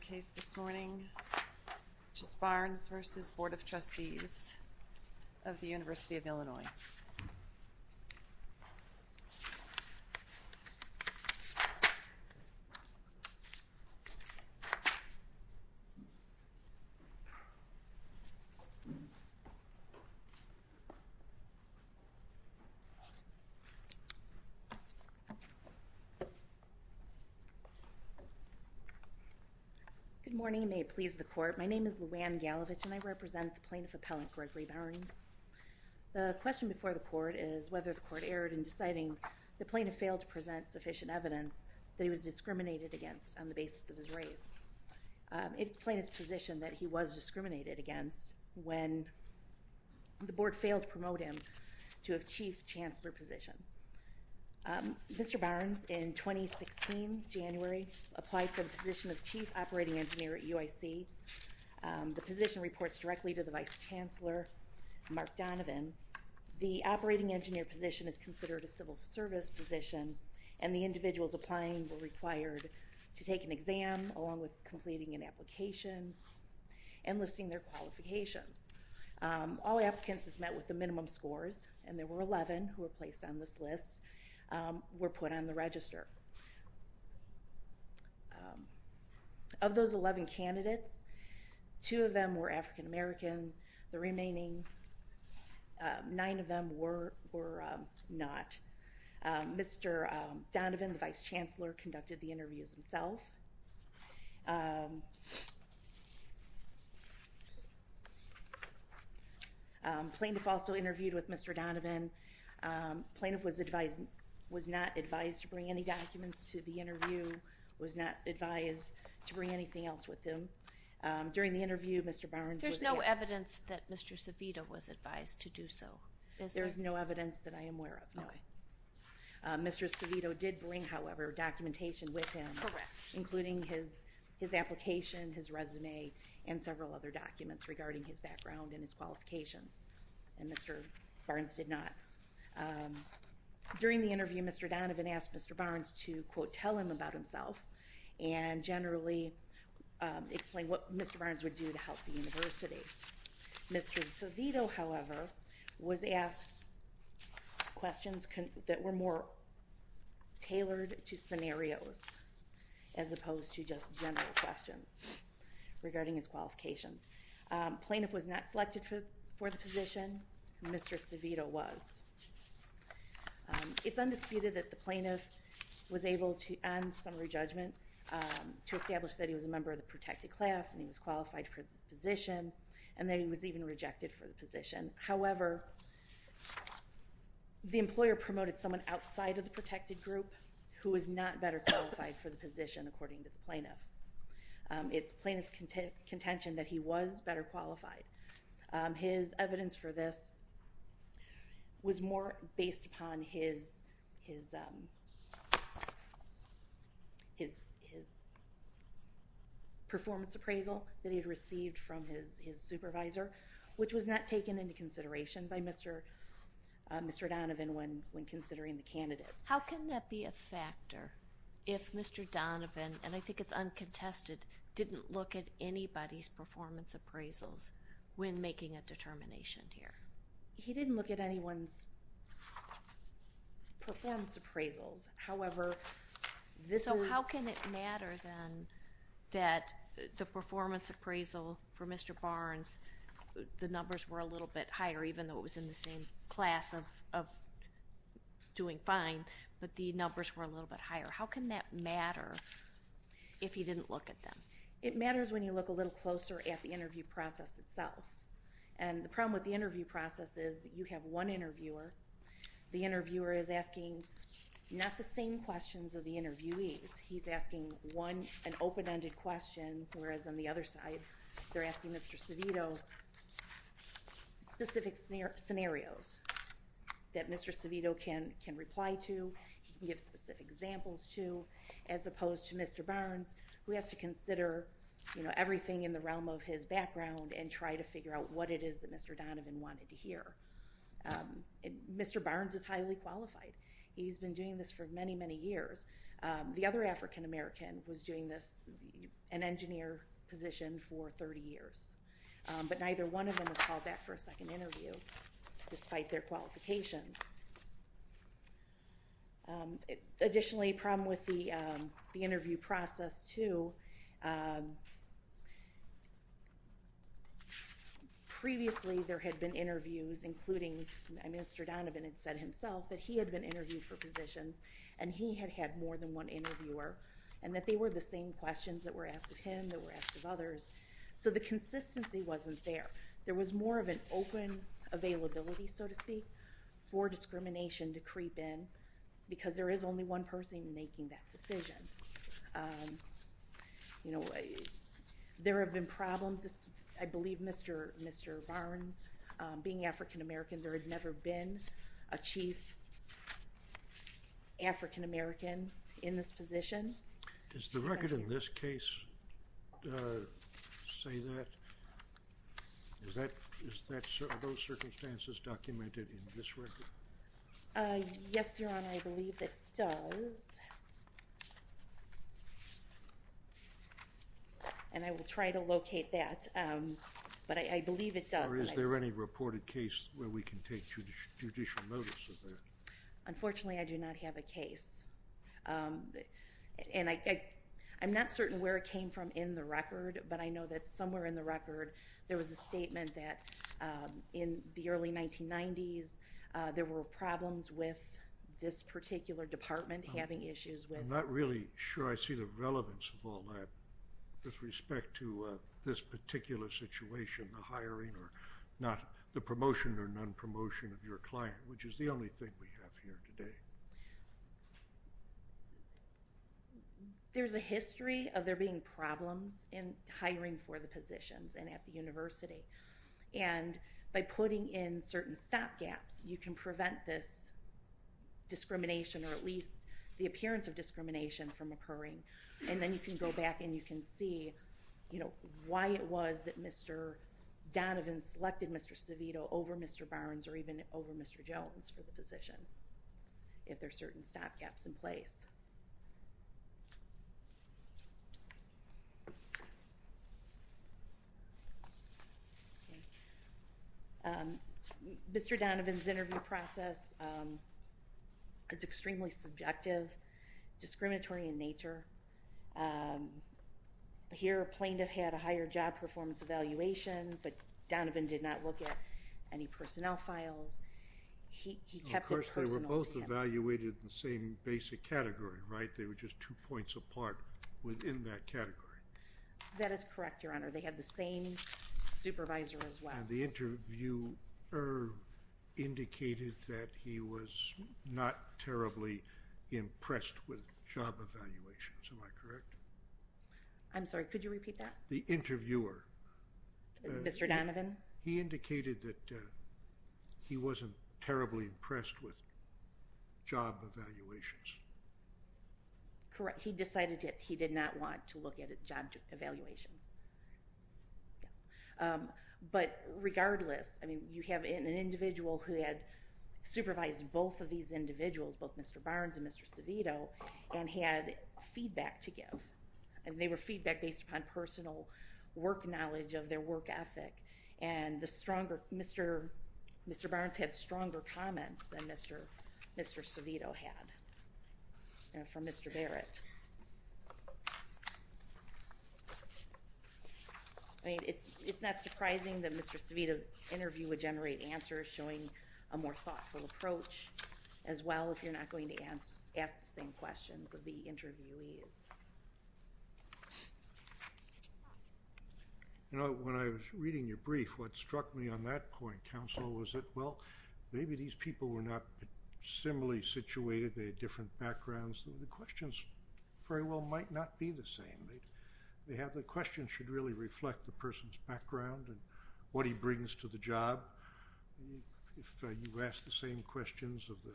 case this morning, which is Barnes v. Board of Trustees of the University of Illinois. Good morning, may it please the court. My name is Lou Anne Galevich and I represent the plaintiff appellant Gregory Barnes. The question before the court is whether the court erred in deciding the plaintiff failed to present sufficient evidence that he was discriminated against on the basis of his race. It's plaintiff's position that he was discriminated against when the board failed to promote him to a chief chancellor position. Mr. Barnes in 2016 January applied for the position of chief operating engineer at UIC. The position reports directly to the vice chancellor Mark Donovan. The operating engineer position is considered a civil service position and the individuals applying were required to take an exam along with completing an application and listing their qualifications. All applicants have met with the minimum scores and there were 11 who were placed on this list were put on the register. Of those 11 candidates, two of them were African-American, the remaining nine of them were not. Mr. Donovan, the vice chancellor, conducted the interviews himself. Plaintiff also interviewed with Mr. Donovan. Plaintiff was not advised to bring any documents to the interview, was not advised to bring anything else with him. During the interview Mr. Barnes... There's no evidence that Mr. Savito was advised to do so. There's no evidence that I am aware of. Mr. Savito did bring however documentation with him including his his application, his resume, and several other documents regarding his background and his qualifications and Mr. Barnes did not. During the interview Mr. Donovan asked Mr. Barnes to quote tell him about himself and generally explain what Mr. Barnes would do to help the university. Mr. Savito however was asked questions that were more tailored to scenarios as opposed to just general questions regarding his qualifications. Plaintiff was not selected for the position. Mr. Savito was. It's undisputed that the plaintiff was able to end summary judgment to establish that he was a member of the protected class and he was qualified for the position and that he was even rejected for the position. However, the employer promoted someone outside of the protected group who is not better qualified for the position according to the plaintiff. It's contention that he was better qualified. His evidence for this was more based upon his his his performance appraisal that he had received from his his supervisor which was not taken into consideration by Mr. Mr. Donovan when when considering the candidates. How can that be a factor if Mr. Donovan and I look at anybody's performance appraisals when making a determination here? He didn't look at anyone's performance appraisals however this so how can it matter then that the performance appraisal for Mr. Barnes the numbers were a little bit higher even though it was in the same class of doing fine but the numbers were a little bit higher. How can that matter if he didn't look at them? It matters when you look a little closer at the interview process itself and the problem with the interview process is that you have one interviewer. The interviewer is asking not the same questions of the interviewees. He's asking one an open-ended question whereas on the other side they're asking Mr. Civito specific scenarios that Mr. Civito can can reply to. He can give specific examples to as opposed to Mr. Barnes who has to consider you know everything in the realm of his background and try to figure out what it is that Mr. Donovan wanted to hear. Mr. Barnes is highly qualified. He's been doing this for many many years. The other African-American was doing this an engineer position for 30 years but neither one of them was called back for Additionally a problem with the interview process too. Previously there had been interviews including Mr. Donovan had said himself that he had been interviewed for positions and he had had more than one interviewer and that they were the same questions that were asked of him that were asked of others so the consistency wasn't there. There was more of an open availability so to speak for discrimination to creep in because there is only one person making that decision. You know there have been problems I believe Mr. Mr. Barnes being African-American there had never been a chief African-American in this position. Does the record in this case say that? Are those circumstances documented in this record? Yes your honor I believe it does and I will try to locate that but I believe it does. Or is there any reported case where we can take judicial notice of that? Unfortunately I do not have a case and I I'm not certain where it came from in the record but I know that somewhere in the record there was a statement that in the early 1990s there were problems with this particular department having issues with. I'm not really sure I see the relevance of all that with respect to this particular situation the hiring or not the promotion or non-promotion of your client which is the only thing we have here today. There's a history of there being problems in hiring for the positions and at the University and by putting in certain stop gaps you can prevent this discrimination or at least the appearance of discrimination from occurring and then you can go back and you can see you know why it was that Mr. Donovan selected Mr. Civito over Mr. Barnes or even over Mr. Jones for the position if there's certain stop gaps in place. Mr. Donovan's interview process is extremely subjective discriminatory in evaluation but Donovan did not look at any personnel files. He kept it personal to him. Of course they were both evaluated in the same basic category right they were just two points apart within that category. That is correct your honor they had the same supervisor as well. The interviewer indicated that he was not terribly impressed with job evaluations am I correct? I'm sorry could you repeat that? The interviewer. Mr. Donovan. He indicated that he wasn't terribly impressed with job evaluations. Correct he decided that he did not want to look at a job evaluations but regardless I mean you have an individual who had supervised both of these individuals both Mr. Barnes and Mr. Civito and had feedback to give and they were feedback based upon personal work knowledge of their work ethic and the stronger Mr. Mr. Barnes had stronger comments than Mr. Mr. Civito had from Mr. Barrett. I mean it's it's not surprising that Mr. Civito's interview would generate answers showing a more thoughtful approach as well if you're asking questions of the interviewees. You know when I was reading your brief what struck me on that point counsel was it well maybe these people were not similarly situated they had different backgrounds the questions very well might not be the same. They have the question should really reflect the person's background and what he brings to the job. If you ask the same questions of the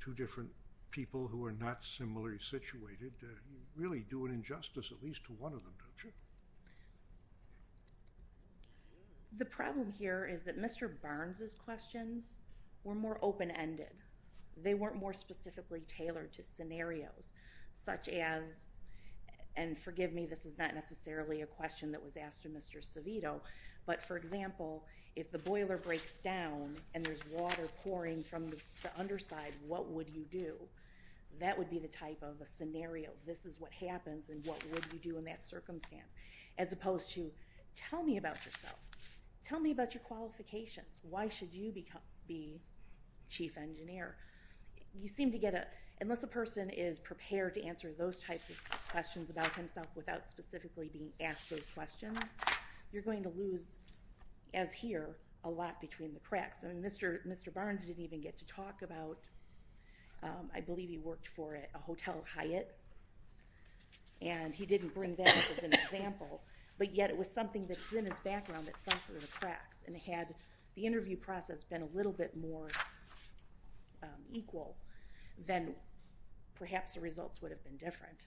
two different people who are not similarly situated you really do an injustice at least to one of them don't you? The problem here is that Mr. Barnes's questions were more open-ended. They weren't more specifically tailored to scenarios such as and forgive me this is not necessarily a question that was asked to Mr. Civito but for example if the boiler breaks down and there's water pouring from the underside what would you do? That would be the type of a scenario. This is what happens and what would you do in that circumstance as opposed to tell me about yourself. Tell me about your qualifications. Why should you become be chief engineer? You seem to get a unless a person is prepared to answer those types of questions about himself without specifically being asked those questions you're going to lose as here a lot between the cracks. I mean Mr. Barnes didn't even get to talk about I believe he worked for a hotel Hyatt and he didn't bring that up as an example but yet it was something that's in his background that fell through the cracks and had the interview process been a little bit more equal then perhaps the results would have been different.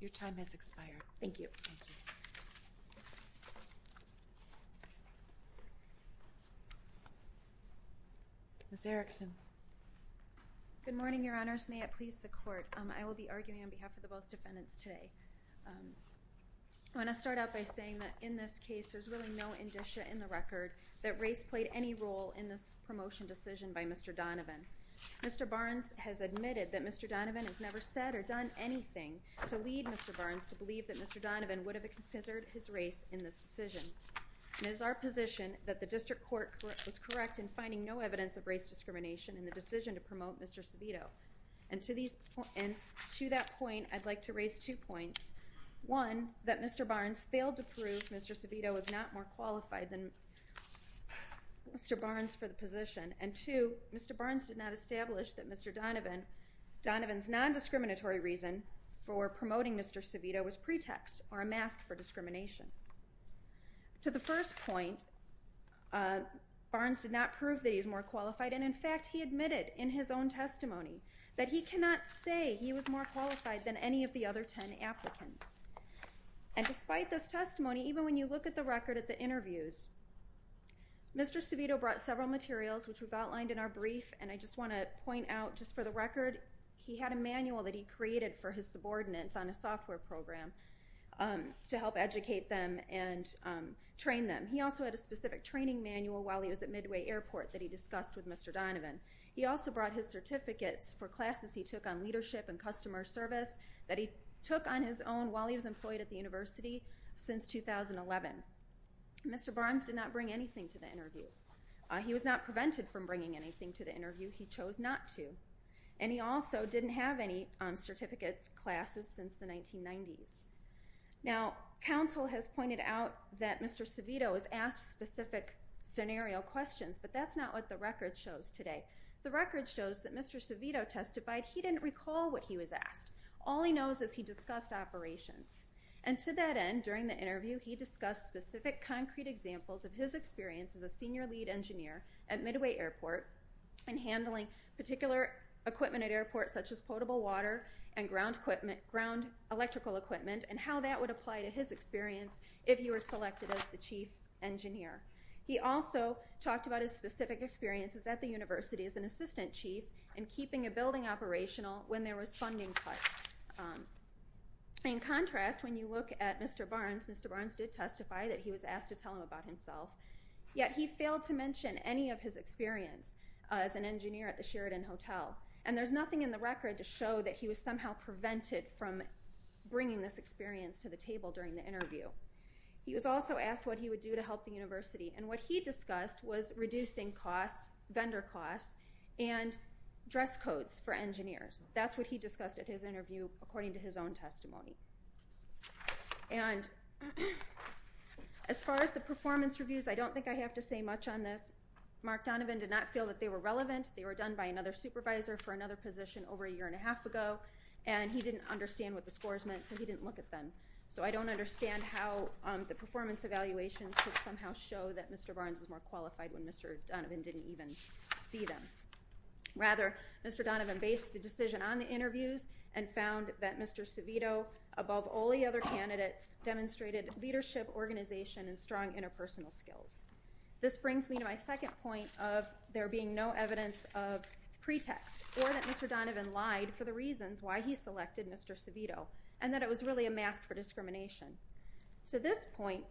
Your time has expired. Thank you. Ms. Erickson. Good morning Your Honors. May it please the court. I will be arguing on behalf of the both defendants today. I want to start out by saying that in this case there's really no indicia in the record that race played any role in this promotion decision by Mr. Donovan. Mr. Barnes has admitted that Mr. Donovan has never said or done anything to lead Mr. Barnes to believe that Mr. Donovan would have considered his race in this decision. It is our position that the district court was correct in finding no evidence of race discrimination in the decision to promote Mr. Civito and to these and to that point I'd like to raise two points. One that Mr. Barnes failed to prove Mr. Donovan was more qualified than Mr. Barnes for the position and two Mr. Barnes did not establish that Mr. Donovan's non-discriminatory reason for promoting Mr. Civito was pretext or a mask for discrimination. To the first point Barnes did not prove that he's more qualified and in fact he admitted in his own testimony that he cannot say he was more qualified than any of the other ten applicants and despite this testimony even when you look at the record at the interviews Mr. Civito brought several materials which we've outlined in our brief and I just want to point out just for the record he had a manual that he created for his subordinates on a software program to help educate them and train them. He also had a specific training manual while he was at Midway Airport that he discussed with Mr. Donovan. He also brought his certificates for classes he took on leadership and customer service that he took on his own while he was employed at the University since 2011. Mr. Barnes did not bring anything to the interview. He was not prevented from bringing anything to the interview. He chose not to and he also didn't have any certificate classes since the 1990s. Now counsel has pointed out that Mr. Civito was asked specific scenario questions but that's not what the record shows today. The record shows that Mr. Civito testified he didn't recall what he was asked. All he knows is he discussed operations and to that end during the interview he discussed specific concrete examples of his experience as a senior lead engineer at Midway Airport and handling particular equipment at airports such as potable water and ground equipment ground electrical equipment and how that would apply to his experience if you were selected as the chief engineer. He also talked about his specific experiences at the University as an assistant chief and in contrast when you look at Mr. Barnes, Mr. Barnes did testify that he was asked to tell him about himself yet he failed to mention any of his experience as an engineer at the Sheridan Hotel and there's nothing in the record to show that he was somehow prevented from bringing this experience to the table during the interview. He was also asked what he would do to help the University and what he discussed was reducing costs, vendor costs, and dress codes for his own testimony. And as far as the performance reviews I don't think I have to say much on this. Mark Donovan did not feel that they were relevant. They were done by another supervisor for another position over a year and a half ago and he didn't understand what the scores meant so he didn't look at them. So I don't understand how the performance evaluations could somehow show that Mr. Barnes was more qualified when Mr. Donovan didn't even see them. Rather, Mr. Civito above all the other candidates demonstrated leadership organization and strong interpersonal skills. This brings me to my second point of there being no evidence of pretext or that Mr. Donovan lied for the reasons why he selected Mr. Civito and that it was really a mask for discrimination. To this point,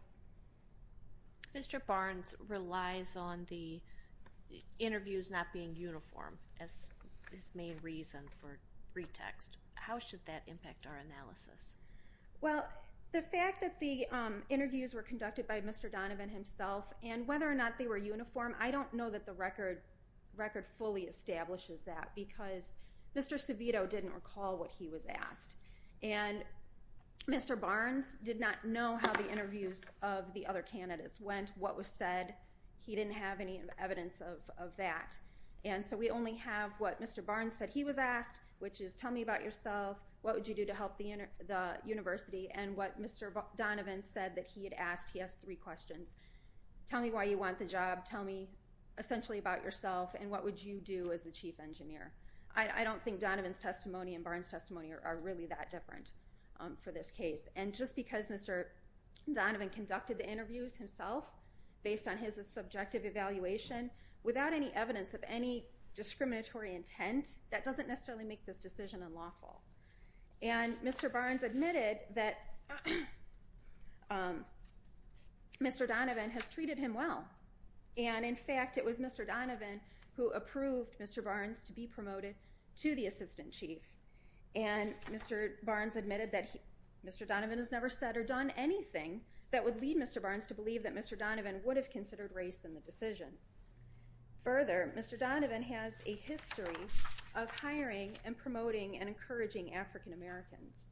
Mr. Barnes relies on the interviews not being uniform as his main reason for pretext. How should that impact our analysis? Well, the fact that the interviews were conducted by Mr. Donovan himself and whether or not they were uniform, I don't know that the record fully establishes that because Mr. Civito didn't recall what he was asked and Mr. Barnes did not know how the interviews of the other candidates went, what was said. He didn't have any evidence of that. And so we only have what Mr. Barnes said he was asked, which is tell me about yourself, what would you do to help the University, and what Mr. Donovan said that he had asked. He has three questions. Tell me why you want the job, tell me essentially about yourself, and what would you do as the chief engineer. I don't think Donovan's testimony and Barnes' testimony are really that different for this case. And just because Mr. Donovan conducted the interviews himself based on his subjective evaluation without any evidence of any discriminatory intent, that doesn't necessarily make this decision unlawful. And Mr. Barnes admitted that Mr. Donovan has treated him well, and in fact it was Mr. Donovan who approved Mr. Barnes to be promoted to the assistant chief. And Mr. Barnes admitted that Mr. Donovan has never said or done anything that would lead Mr. Barnes to believe that Mr. Donovan would have considered race in the decision. Further, Mr. Donovan has a history of hiring and promoting and encouraging African Americans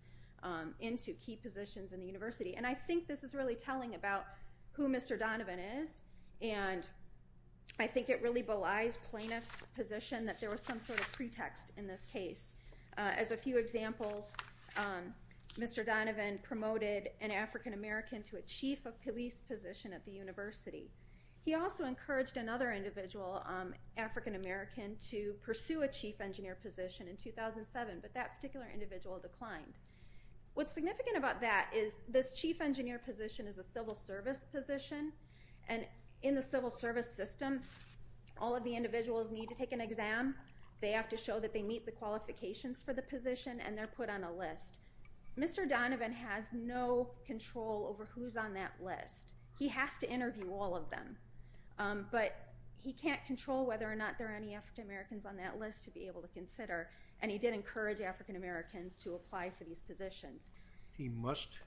into key positions in the University. And I think this is really telling about who Mr. Donovan is, and I think it really belies plaintiff's position that there was some pretext in this case. As a few examples, Mr. Donovan promoted an African American to a chief of police position at the University. He also encouraged another individual, African American, to pursue a chief engineer position in 2007, but that particular individual declined. What's significant about that is this chief engineer position is a civil service position, and in the civil service system all of the individuals need to take an exam, they have to show that they meet the qualifications for the position, and they're put on a list. Mr. Donovan has no control over who's on that list. He has to interview all of them, but he can't control whether or not there are any African Americans on that list to be able to consider, and he did encourage African Americans to apply for these positions. He must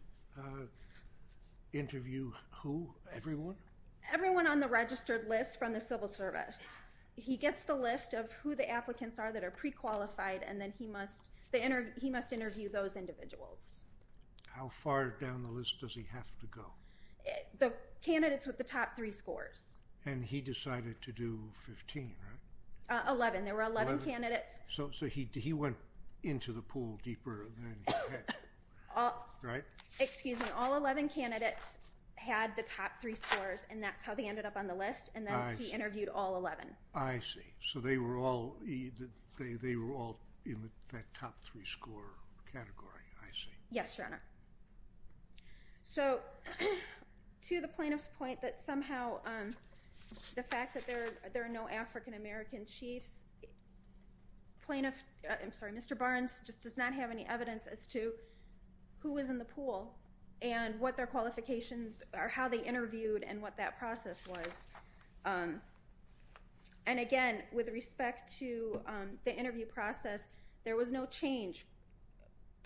interview who? Everyone? Everyone on the registered list from the civil service. He gets the list of who the applicants are that are pre-qualified and then he must interview those individuals. How far down the list does he have to go? The candidates with the top three scores. And he decided to do 15, right? 11. There were 11 candidates. So he went into the pool deeper than he had, right? Excuse me, all 11 candidates had the top three scores and that's how they ended up on the list, and then he interviewed all 11. I see. So they were all in that top three score category. I see. Yes, Your Honor. So to the plaintiff's point that somehow the fact that there are no African American chiefs, Mr. Barnes just does not have any evidence as to who was in the pool and what their qualifications are, how they interviewed and what that process was. And again, with respect to the interview process, there was no change.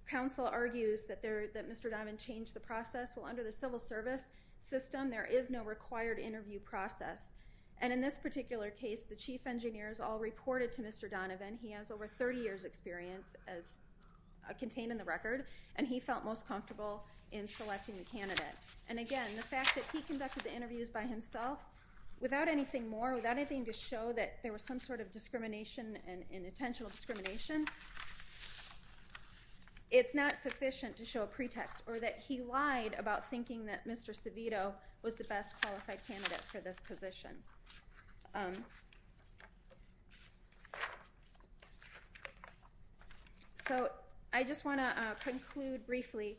Counsel argues that Mr. Donovan changed the process. Well, under the civil service system, there is no required interview process. And in this particular case, the chief engineers all reported to Mr. Donovan. He has over 30 years experience as contained in the record, and he felt most comfortable in selecting the candidate. And again, the fact that he conducted the interviews by himself, without anything more, without anything to show that there was some sort of discrimination and intentional discrimination, it's not sufficient to show a pretext or that he lied about thinking that Mr. Savito was the best qualified candidate for this position. So I just want to conclude briefly.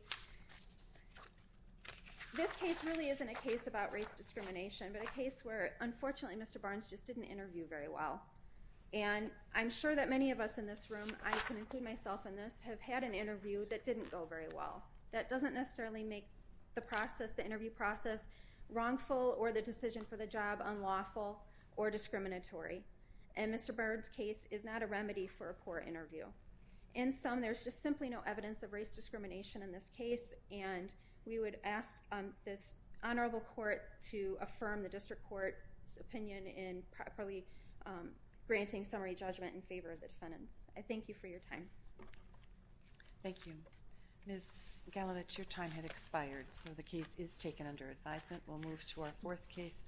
This case really isn't a case about race discrimination, but a case where unfortunately Mr. Barnes just didn't interview very well. And I'm sure that many of us in this room, I can include myself in this, have had an interview that didn't go very well. That doesn't necessarily make the process, the interview process, wrongful or the decision for the job unlawful or discriminatory. And Mr. Barnes' case is not a remedy for a poor interview. In sum, there's just simply no evidence of race discrimination in this case, and we would ask this honorable court to affirm the district court's opinion in properly granting summary judgment in favor of the defendants. I thank you for your time. Thank you. Ms. Galovic, your time had expired, so the case is taken under advisement. We'll move to our fourth case.